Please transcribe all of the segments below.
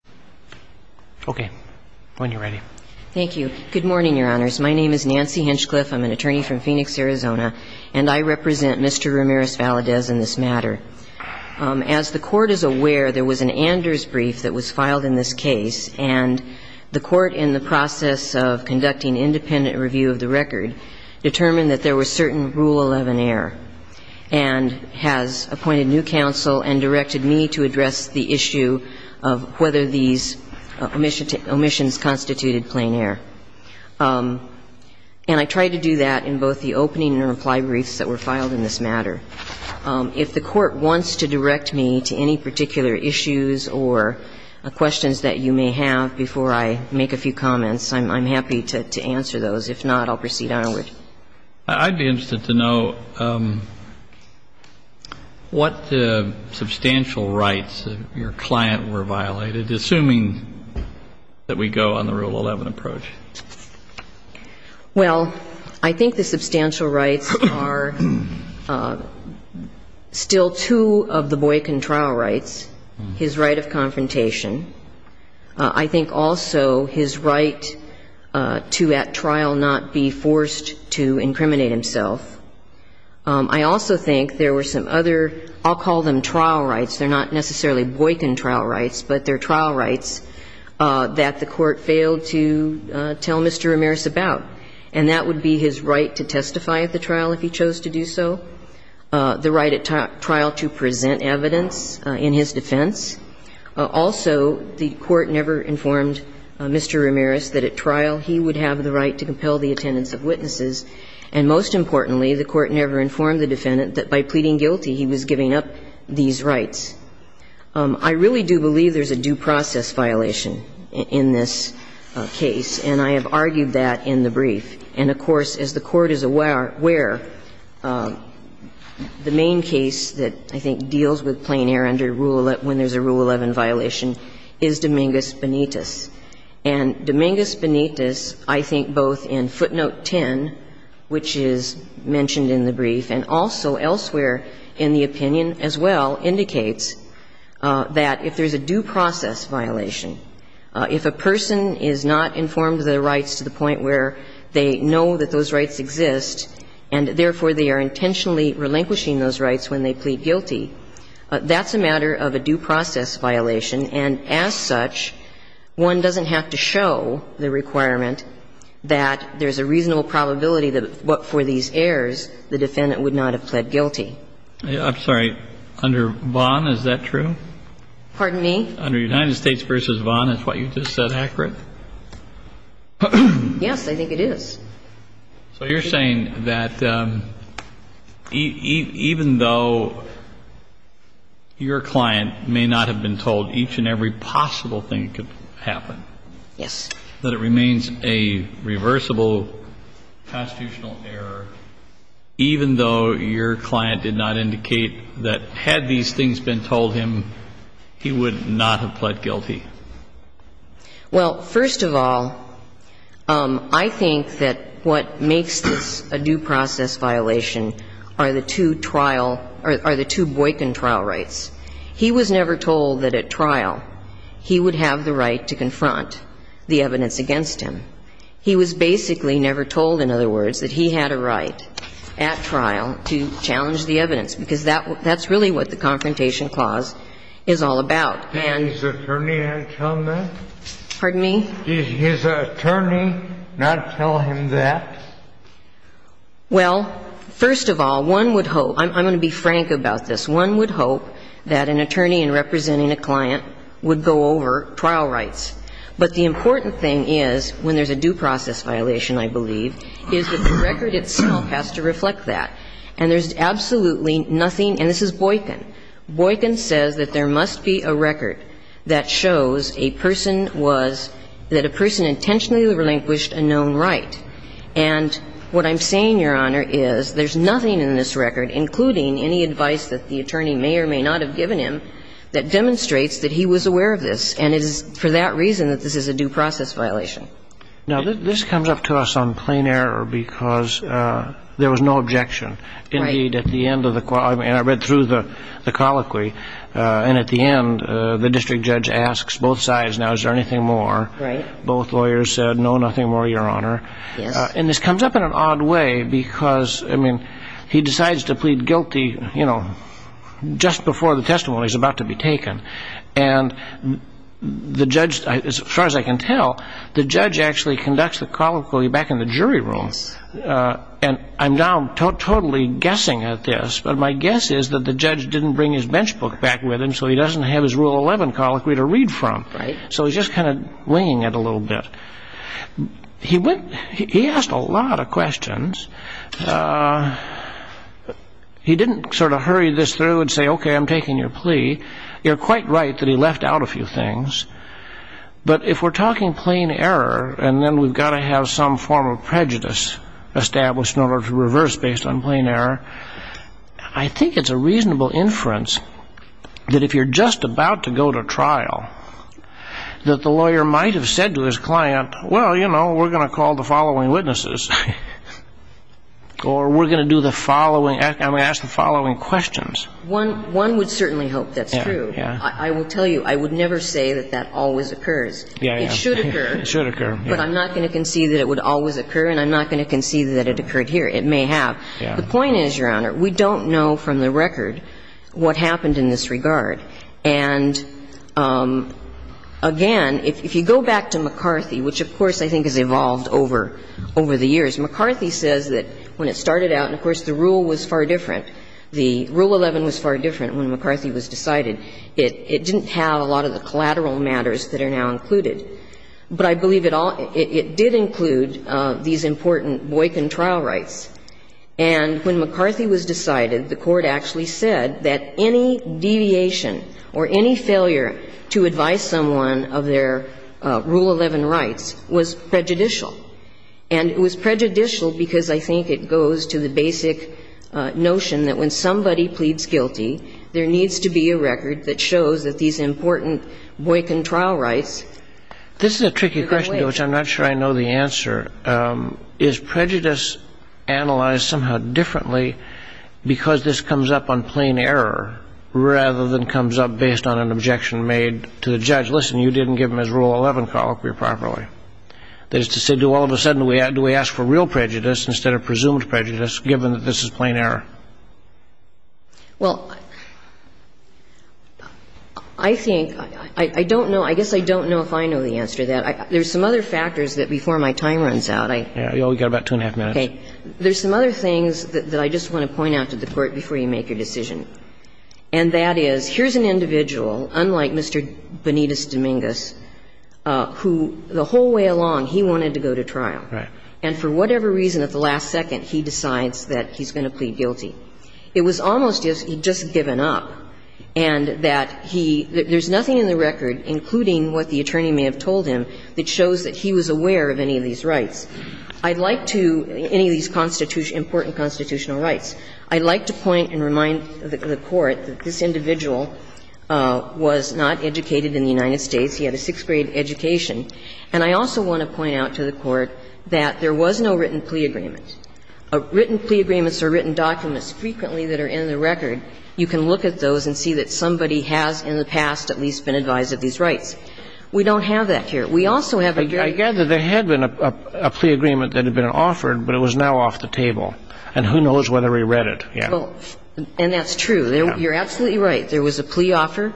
in this matter. As the Court is aware, there was an Anders brief that was filed in this case, and the Court, in the process of conducting independent review of the record, determined that there was certain Rule 11 error, and has appointed new counsel and directed me to address the issue of whether the individual should be charged with these omissions constituted plein air. And I tried to do that in both the opening and reply briefs that were filed in this matter. If the Court wants to direct me to any particular issues or questions that you may have before I make a few comments, I'm happy to answer those. If not, I'll proceed onward. I'd be interested to know what substantial rights of your client were violated. Assuming that we go on the Rule 11 approach. Well, I think the substantial rights are still two of the boycott trial rights, his right of confrontation. I think also his right to, at trial, not be forced to incriminate himself. I also think there were some other, I'll call them trial rights, but they're trial rights that the Court failed to tell Mr. Ramirez about. And that would be his right to testify at the trial if he chose to do so, the right at trial to present evidence in his defense. Also, the Court never informed Mr. Ramirez that at trial he would have the right to compel the attendance of witnesses. And most importantly, the Court never informed the defendant that by pleading guilty he was giving up these rights. I really do believe there's a due process violation in this case, and I have argued that in the brief. And, of course, as the Court is aware, the main case that I think deals with plain error under Rule 11, when there's a Rule 11 violation, is Dominguez-Benitez. And Dominguez-Benitez, I think both in footnote 10, which is mentioned in the brief and also elsewhere in the opinion as well, indicates that if there's a due process violation, if a person is not informed of their rights to the point where they know that those rights exist and, therefore, they are intentionally relinquishing those rights when they plead guilty, that's a matter of a due process violation. And as such, one doesn't have to show the requirement that there's a reasonable probability that what for these errors the defendant would not have pled guilty. I'm sorry. Under Vaughn, is that true? Pardon me? Under United States v. Vaughn, is what you just said accurate? Yes, I think it is. So you're saying that even though your client may not have been told each and every possible thing that could happen, that it remains a reversible constitutional error, even though your client did not indicate that had these things been told him, he would not have pled guilty? Well, first of all, I think that what makes this a due process violation are the two trial or the two Boykin trial rights. He was never told that at trial he would have the right to confront the evidence against him. He was basically never told, in other words, that he had a right at trial to challenge the evidence, because that's really what the Confrontation Clause is all about. And his attorney had to tell him that? Pardon me? His attorney not tell him that? Well, first of all, one would hope – I'm going to be frank about this. One would hope that an attorney representing a client would go over trial rights. But the important thing is, when there's a due process violation, I believe, is that the record itself has to reflect that. And there's absolutely nothing – and this is Boykin. Boykin says that there must be a record that shows a person was – that a person intentionally relinquished a known right. And what I'm saying, Your Honor, is there's nothing in this record, including any advice that the attorney may or may not have given him, that demonstrates that he was aware of this. And it is for that reason that this is a due process violation. Now, this comes up to us on plain error because there was no objection. Right. And I read through the colloquy. And at the end, the district judge asks both sides, now, is there anything more? Right. Both lawyers said, no, nothing more, Your Honor. Yes. And this comes up in an odd way because, I mean, he decides to plead guilty, you know, just before the testimony is about to be taken. And the judge – as far as I can tell, the judge actually conducts the colloquy back in the jury room. Yes. And I'm now totally guessing at this, but my guess is that the judge didn't bring his bench book back with him so he doesn't have his Rule 11 colloquy to read from. Right. So he's just kind of winging it a little bit. He went – he asked a lot of questions. He didn't sort of hurry this through and say, okay, I'm taking your plea. You're quite right that he left out a few things. But if we're talking plain error, and then we've got to have some form of prejudice established in order to reverse based on plain error, I think it's a reasonable inference that if you're just about to go to trial, that the lawyer might have said to his client, well, you know, we're going to call the following witnesses or we're going to do the following – I mean, ask the following questions. One would certainly hope that's true. Yes. I would never say that that always occurs. It should occur. It should occur. But I'm not going to concede that it would always occur and I'm not going to concede that it occurred here. It may have. The point is, Your Honor, we don't know from the record what happened in this regard. And again, if you go back to McCarthy, which of course I think has evolved over the years, McCarthy says that when it started out, and of course the rule was far different, the Rule 11 was far different when McCarthy was decided. It didn't have a lot of the collateral matters that are now included. But I believe it did include these important Boykin trial rights. And when McCarthy was decided, the Court actually said that any deviation or any failure to advise someone of their Rule 11 rights was prejudicial. And it was prejudicial because I think it goes to the basic notion that when somebody pleads guilty, there needs to be a record that shows that these important Boykin trial rights are going away. This is a tricky question to which I'm not sure I know the answer. Is prejudice analyzed somehow differently because this comes up on plain error rather than comes up based on an objection made to the judge? Listen, you didn't give him his Rule 11 colloquy properly. That is to say, do all of a sudden, do we ask for real prejudice instead of presumed prejudice, given that this is plain error? Well, I think, I don't know. I guess I don't know if I know the answer to that. There's some other factors that before my time runs out, I. You've got about two and a half minutes. Okay. There's some other things that I just want to point out to the Court before you make your decision, and that is, here's an individual, unlike Mr. Benitez-Dominguez, who, the whole way along, he wanted to go to trial. Right. And for whatever reason, at the last second, he decides that he's going to plead guilty. It was almost as if he'd just given up and that he – there's nothing in the record, including what the attorney may have told him, that shows that he was aware of any of these rights. I'd like to – any of these important constitutional rights. I'd like to point and remind the Court that this individual was not educated in the United States. He had a sixth-grade education. And I also want to point out to the Court that there was no written plea agreement. Written plea agreements are written documents frequently that are in the record. You can look at those and see that somebody has in the past at least been advised of these rights. We don't have that here. We also have a very – I gather there had been a plea agreement that had been offered, but it was now off the table. And who knows whether he read it yet. And that's true. You're absolutely right. There was a plea offer,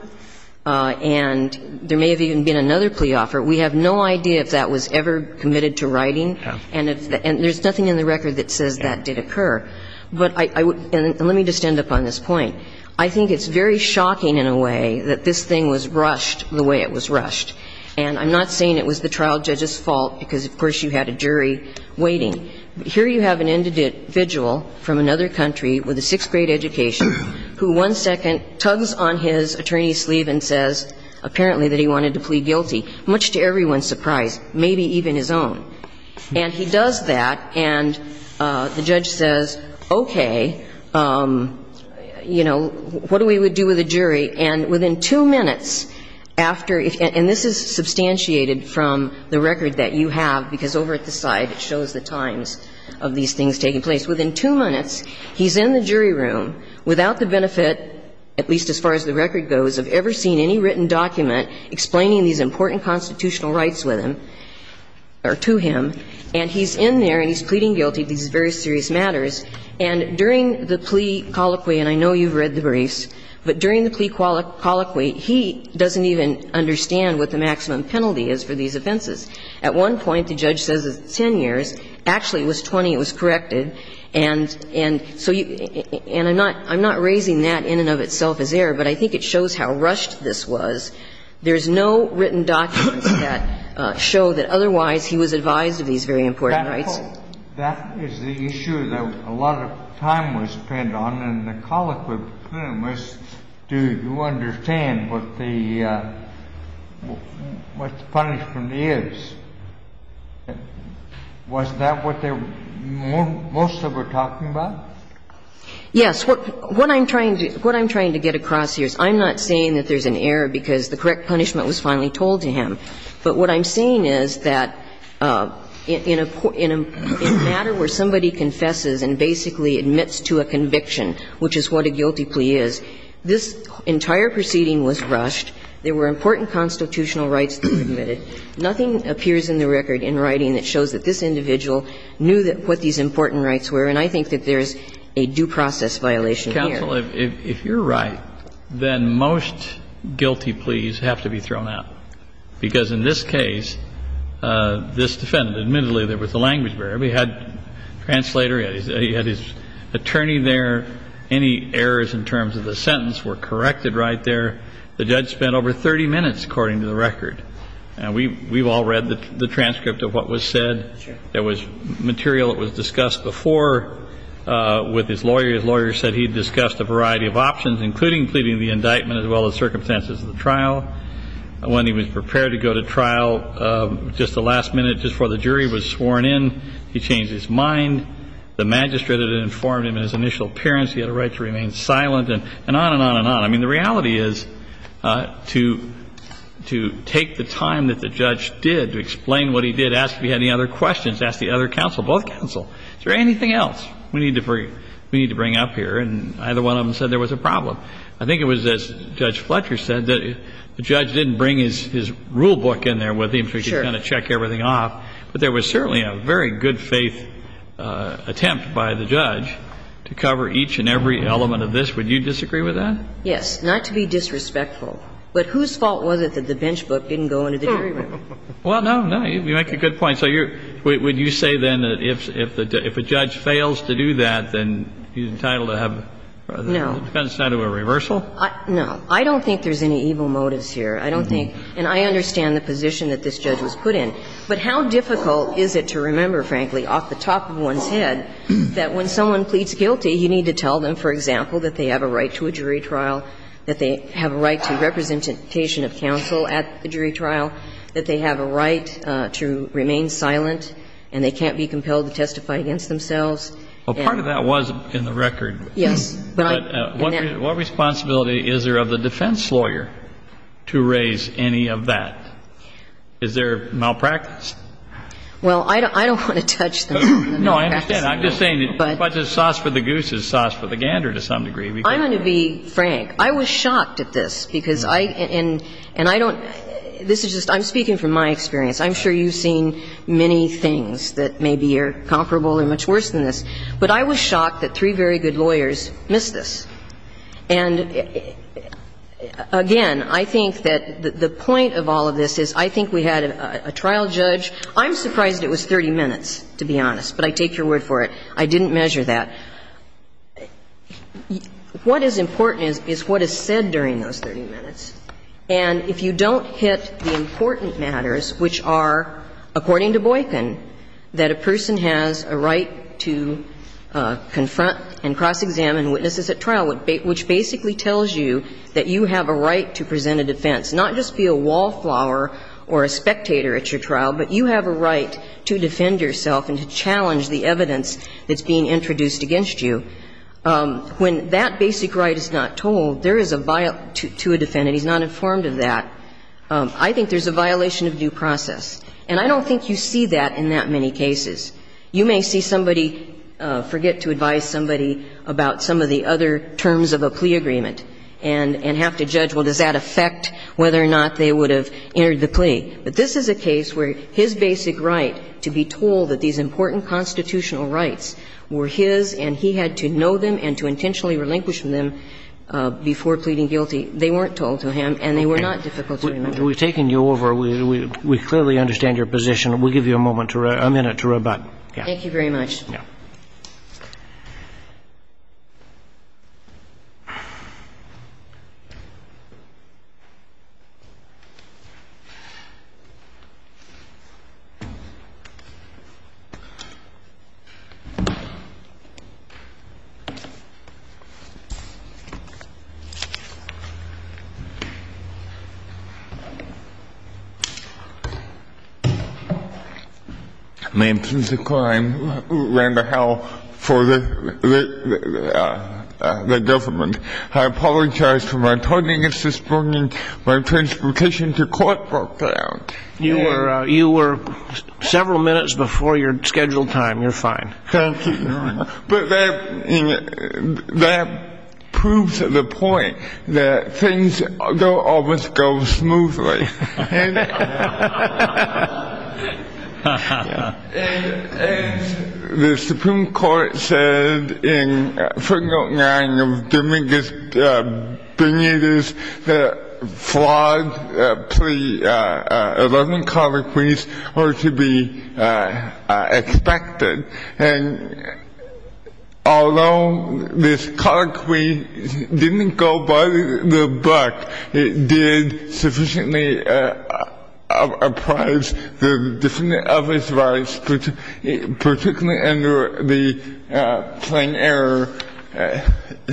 and there may have even been another plea offer. We have no idea if that was ever committed to writing. And if – and there's nothing in the record that says that did occur. But I would – and let me just end up on this point. I think it's very shocking in a way that this thing was rushed the way it was rushed. And I'm not saying it was the trial judge's fault because, of course, you had a jury waiting. Here you have an individual from another country with a sixth-grade education who one second tugs on his attorney's sleeve and says apparently that he wanted to plead guilty, much to everyone's surprise, maybe even his own. And he does that, and the judge says, okay, you know, what do we do with the jury? And within two minutes after – and this is substantiated from the record that you have, because over at the side it shows the times of these things taking place. Within two minutes, he's in the jury room without the benefit, at least as far as the record goes, of ever seeing any written document explaining these important constitutional rights with him or to him, and he's in there and he's pleading guilty to these very serious matters. And during the plea colloquy, and I know you've read the briefs, but during the plea colloquy, he doesn't even understand what the maximum penalty is for these offenses. At one point, the judge says it's 10 years. Actually, it was 20. It was corrected. And so you – and I'm not raising that in and of itself as error, but I think it shows how rushed this was. There's no written documents that show that otherwise he was advised of these very important rights. That is the issue that a lot of time was spent on, and the colloquy for him was, do you understand what the punishment is? Was that what most of them were talking about? Yes. What I'm trying to get across here is I'm not saying that there's an error because the correct punishment was finally told to him. But what I'm saying is that in a matter where somebody confesses and basically admits to a conviction, which is what a guilty plea is, this entire proceeding was rushed. There were important constitutional rights that were committed. Nothing appears in the record in writing that shows that this individual knew what these important rights were. And I think that there's a due process violation here. Counsel, if you're right, then most guilty pleas have to be thrown out, because in this case, this defendant admittedly, there was a language barrier. Everybody had a translator. He had his attorney there. Any errors in terms of the sentence were corrected right there. The judge spent over 30 minutes, according to the record. And we've all read the transcript of what was said. There was material that was discussed before with his lawyer. His lawyer said he discussed a variety of options, including pleading the indictment as well as circumstances of the trial. When he was prepared to go to trial, just the last minute before the jury was sworn in, he changed his mind. The magistrate had informed him of his initial appearance. He had a right to remain silent and on and on and on. I mean, the reality is to take the time that the judge did to explain what he did, ask if he had any other questions, ask the other counsel, both counsel, is there anything else we need to bring up here? And either one of them said there was a problem. I think it was, as Judge Fletcher said, that the judge didn't bring his rule book in there with him so he could kind of check everything off. But there was certainly a very good-faith attempt by the judge to cover each and every element of this. Would you disagree with that? Yes. Not to be disrespectful. But whose fault was it that the bench book didn't go into the jury room? Well, no, no. You make a good point. So you're – would you say then that if a judge fails to do that, then he's entitled to have a – No. It's not a reversal? No. I don't think there's any evil motives here. I don't think – and I understand the position that this judge was put in. But how difficult is it to remember, frankly, off the top of one's head, that when someone pleads guilty, you need to tell them, for example, that they have a right to a jury trial, that they have a right to representation of counsel at the jury trial, that they have a right to remain silent and they can't be compelled to testify against themselves. Well, part of that was in the record. Yes. But I – What responsibility is there of the defense lawyer to raise any of that? Is there malpractice? Well, I don't want to touch on the malpractice. No, I understand. I'm just saying that the question of sauce for the goose is sauce for the gander to some degree. I'm going to be frank. I was shocked at this, because I – and I don't – this is just – I'm speaking from my experience. I'm sure you've seen many things that maybe are comparable or much worse than this. But I was shocked that three very good lawyers missed this. And, again, I think that the point of all of this is I think we had a trial judge – I'm surprised it was 30 minutes, to be honest, but I take your word for it. I didn't measure that. What is important is what is said during those 30 minutes. And if you don't hit the important matters, which are, according to Boykin, that a person has a right to confront and cross-examine witnesses at trial, which basically tells you that you have a right to present a defense, not just be a wallflower or a spectator at your trial, but you have a right to defend yourself and to challenge the evidence that's being introduced against you, when that basic right is not told, there is a – to a defendant, he's not informed of that, I think there's a violation of due process. And I don't think you see that in that many cases. You may see somebody forget to advise somebody about some of the other terms of a plea agreement and have to judge, well, does that affect whether or not they would have entered the plea. But this is a case where his basic right to be told that these important constitutional rights were his and he had to know them and to intentionally relinquish them before pleading guilty, they weren't told to him and they were not difficult to remember. We've taken you over. We clearly understand your position. We'll give you a moment to – a minute to rebut. Thank you very much. Yeah. I apologize for my tardiness this morning. My transportation to court broke down. You were several minutes before your scheduled time. Thank you, Your Honor. But that proves the point that things don't always go smoothly. And the Supreme Court said in Article 9 of Dominguez-Benitez that flawed plea – 11 Although this colloquy didn't go by the book, it did sufficiently apprise the defendant of his rights, particularly under the plain error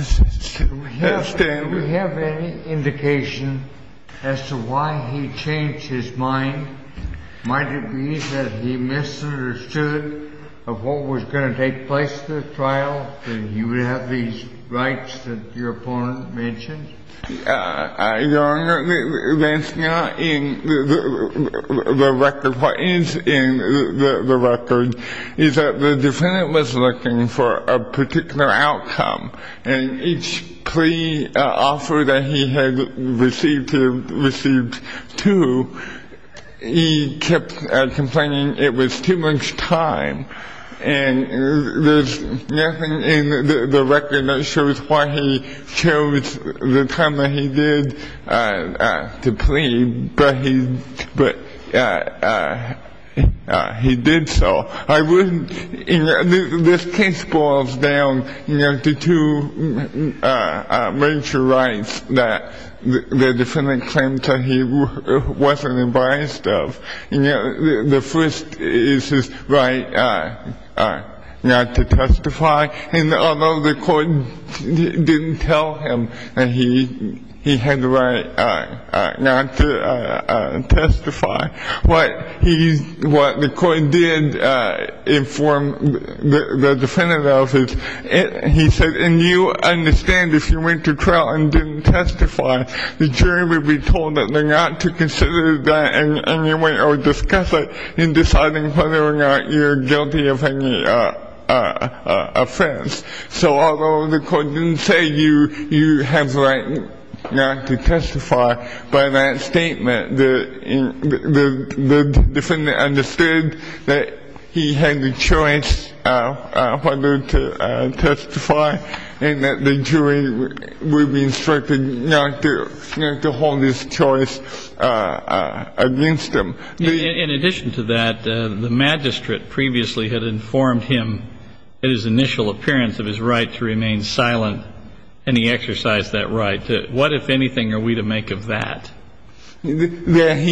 standard. Do we have any indication as to why he changed his mind? Might it be that he misunderstood of what was going to take place at the trial, that he would have these rights that your opponent mentioned? Your Honor, that's not in the record. What is in the record is that the defendant was looking for a particular outcome and each he had received two, he kept complaining it was too much time. And there's nothing in the record that shows why he chose the time that he did to plea, but he did so. This case boils down to two major rights that the defendant claims that he wasn't advised of. The first is his right not to testify. And although the court didn't tell him that he had the right not to testify, what the court did inform the defendant of is he said, and you understand if you went to trial and didn't testify, the jury would be told that they're not to consider that in any way or discuss it in deciding whether or not you're guilty of any offense. So although the court didn't say you have the right not to testify, by that statement the defendant understood that he had the choice whether to testify and that the jury would be instructed not to hold his choice against him. In addition to that, the magistrate previously had informed him at his initial appearance of his right to remain silent, and he exercised that right. What, if anything, are we to make of that? That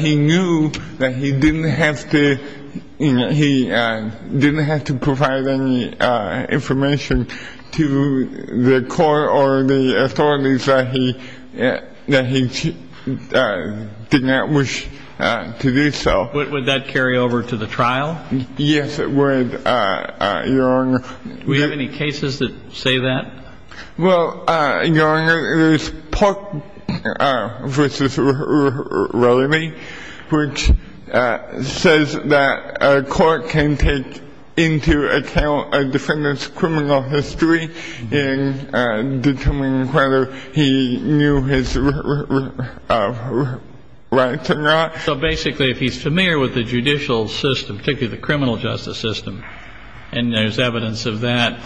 he knew that he didn't have to provide any information to the court or the authorities that he did not wish to do so. Would that carry over to the trial? Yes, it would, Your Honor. Do we have any cases that say that? Well, Your Honor, there's Park v. Rowley, which says that a court can take into account a defendant's criminal history in determining whether he knew his rights or not. So basically if he's familiar with the judicial system, particularly the criminal justice system, and there's evidence of that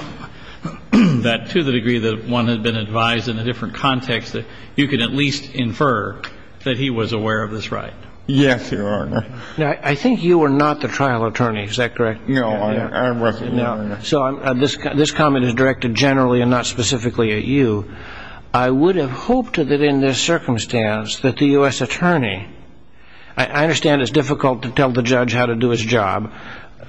to the degree that one had been advised in a different context that you could at least infer that he was aware of his right. Yes, Your Honor. Now, I think you were not the trial attorney, is that correct? No, I wasn't, Your Honor. So this comment is directed generally and not specifically at you. I would have hoped that in this circumstance that the U.S. attorney I understand it's difficult to tell the judge how to do his job,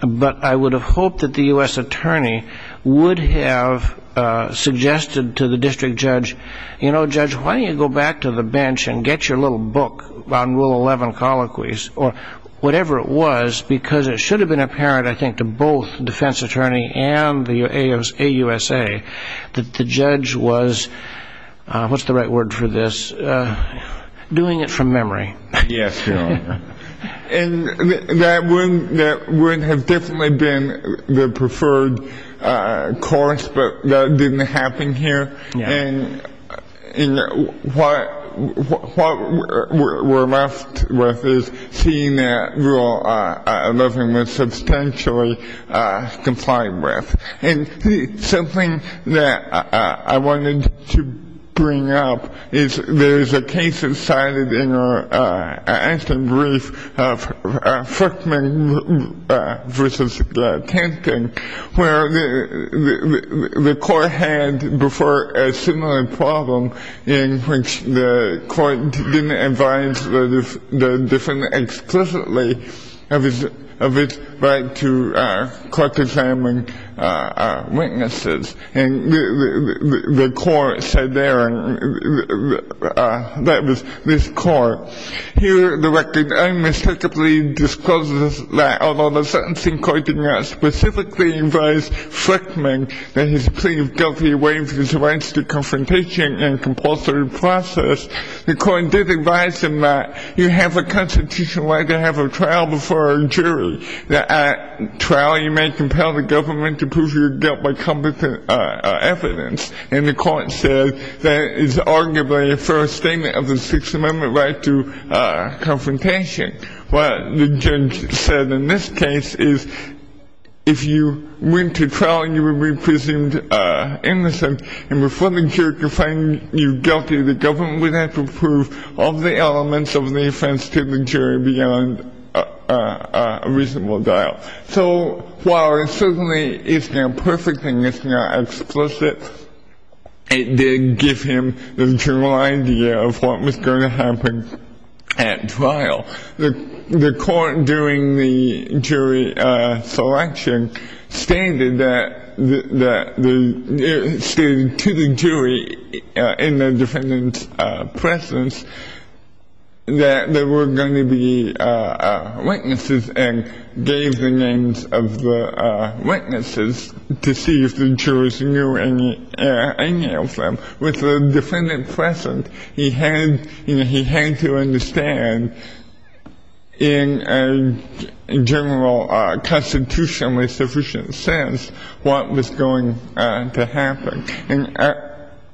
but I would have hoped that the U.S. attorney would have suggested to the district judge, you know, Judge, why don't you go back to the bench and get your little book on Rule 11 colloquies, or whatever it was, because it should have been apparent, I think, to both the defense attorney and the AUSA that the judge was, what's the right word for this, doing it from memory. Yes, Your Honor. And that would have definitely been the preferred course, but that didn't happen here. And what we're left with is seeing that Rule 11 was substantially complied with. And something that I wanted to bring up is there's a case that's cited in our action brief of Frickman v. Tanton where the court had before a similar problem in which the court didn't advise the defendant explicitly of its right to court-examine witnesses. And the court said there, and that was this court. Here, the record unmistakably discloses that although the sentencing court did not specifically advise Frickman that he's pleaded guilty of waiving his rights to confrontation and compulsory process, the court did advise him that you have a constitutional right to have a trial before a jury, that at trial you may compel the government to prove your guilt by competent evidence. And the court said that is arguably a fair statement of the Sixth Amendment right to confrontation. What the judge said in this case is if you went to trial, you would be presumed innocent. And before the jury could find you guilty, the government would have to prove all the elements of the offense to the jury beyond a reasonable doubt. So while it certainly isn't a perfect thing, it's not explicit, it did give him the general idea of what was going to happen at trial. The court during the jury selection stated to the jury in the defendant's presence that there were going to be witnesses and gave the names of the witnesses to see if the jurors knew any of them. With the defendant present, he had to understand in a general constitutionally sufficient sense what was going to happen.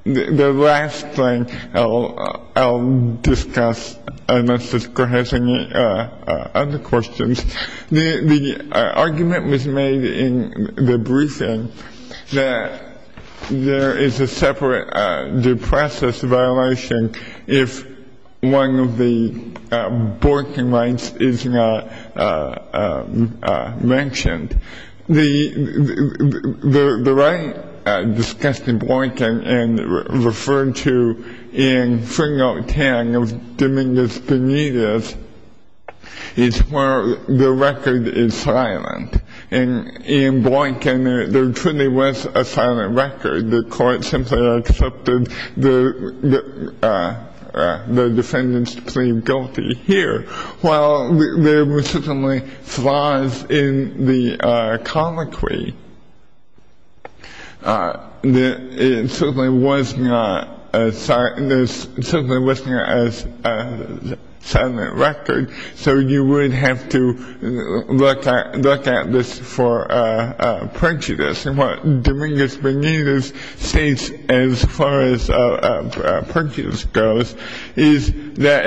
The last thing I'll discuss, unless this court has any other questions. The argument was made in the briefing that there is a separate due process violation if one of the borking rights is not mentioned. The right discussed in Boykin and referred to in Fringo 10 of Dominguez Benitez is where the record is silent. In Boykin, there truly was a silent record. The court simply accepted the defendant's plea guilty here. While there were certainly flaws in the colloquy, it certainly was not a silent record, so you would have to look at this for prejudice. What Dominguez Benitez states, as far as prejudice goes, is that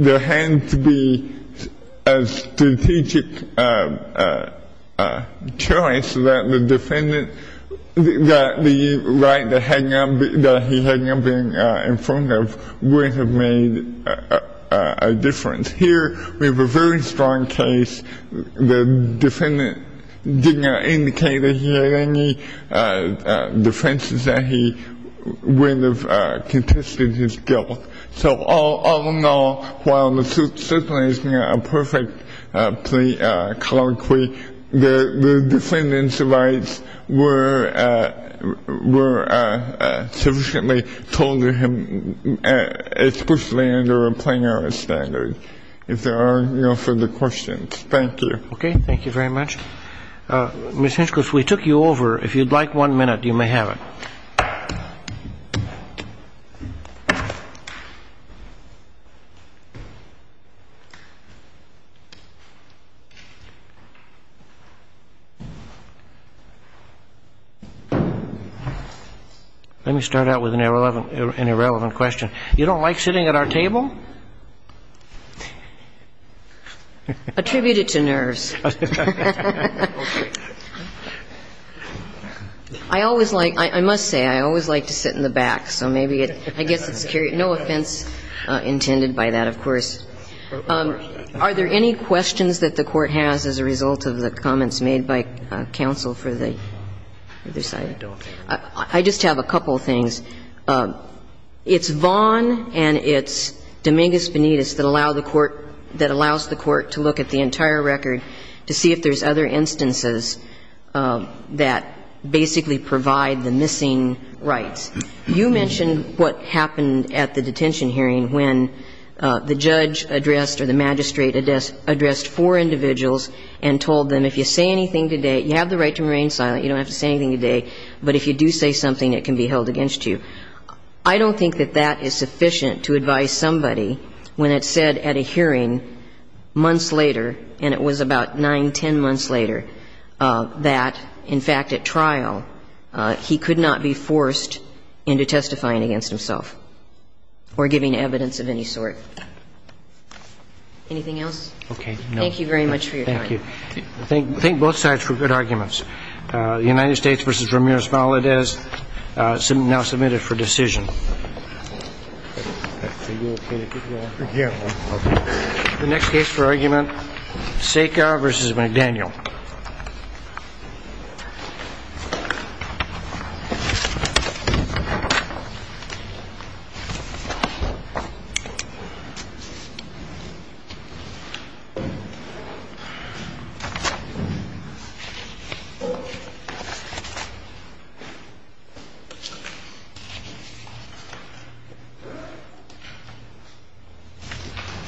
there had to be a strategic choice that the defendant, that the right that he had not been informed of would have made a difference. Here, we have a very strong case. The defendant did not indicate that he had any defenses that he would have contested his guilt. So all in all, while there certainly is not a perfect colloquy, the defendant's rights were sufficiently told to him, especially under a plain-errand standard. If there are no further questions, thank you. Okay, thank you very much. Ms. Hinchcliffe, we took you over. If you'd like one minute, you may have it. Let me start out with an irrelevant question. You don't like sitting at our table? Attribute it to nerves. I always like to sit in the back, so I guess it's carried. No offense intended by that, of course. Are there any questions that the Court has as a result of the comments made by counsel for the other side? I don't think so. I just have a couple of things. It's Vaughn and it's Dominguez-Benitez that allow the Court, that allows the Court to look at the entire record to see if there's other instances that basically provide the missing rights. You mentioned what happened at the detention hearing when the judge addressed or the magistrate addressed four individuals and told them, if you say anything today, you have the right to remain silent, you don't have to say anything today, but if you do say something, it can be held against you. I don't think that that is sufficient to advise somebody when it's said at a hearing months later, and it was about nine, ten months later, that, in fact, at trial, he could not be forced into testifying against himself or giving evidence of any sort. Anything else? Okay. Thank you very much for your time. Thank you. Thank both sides for good arguments. The United States v. Ramirez-Valadez now submitted for decision. The next case for argument, Sekar v. McDaniel. Thank you.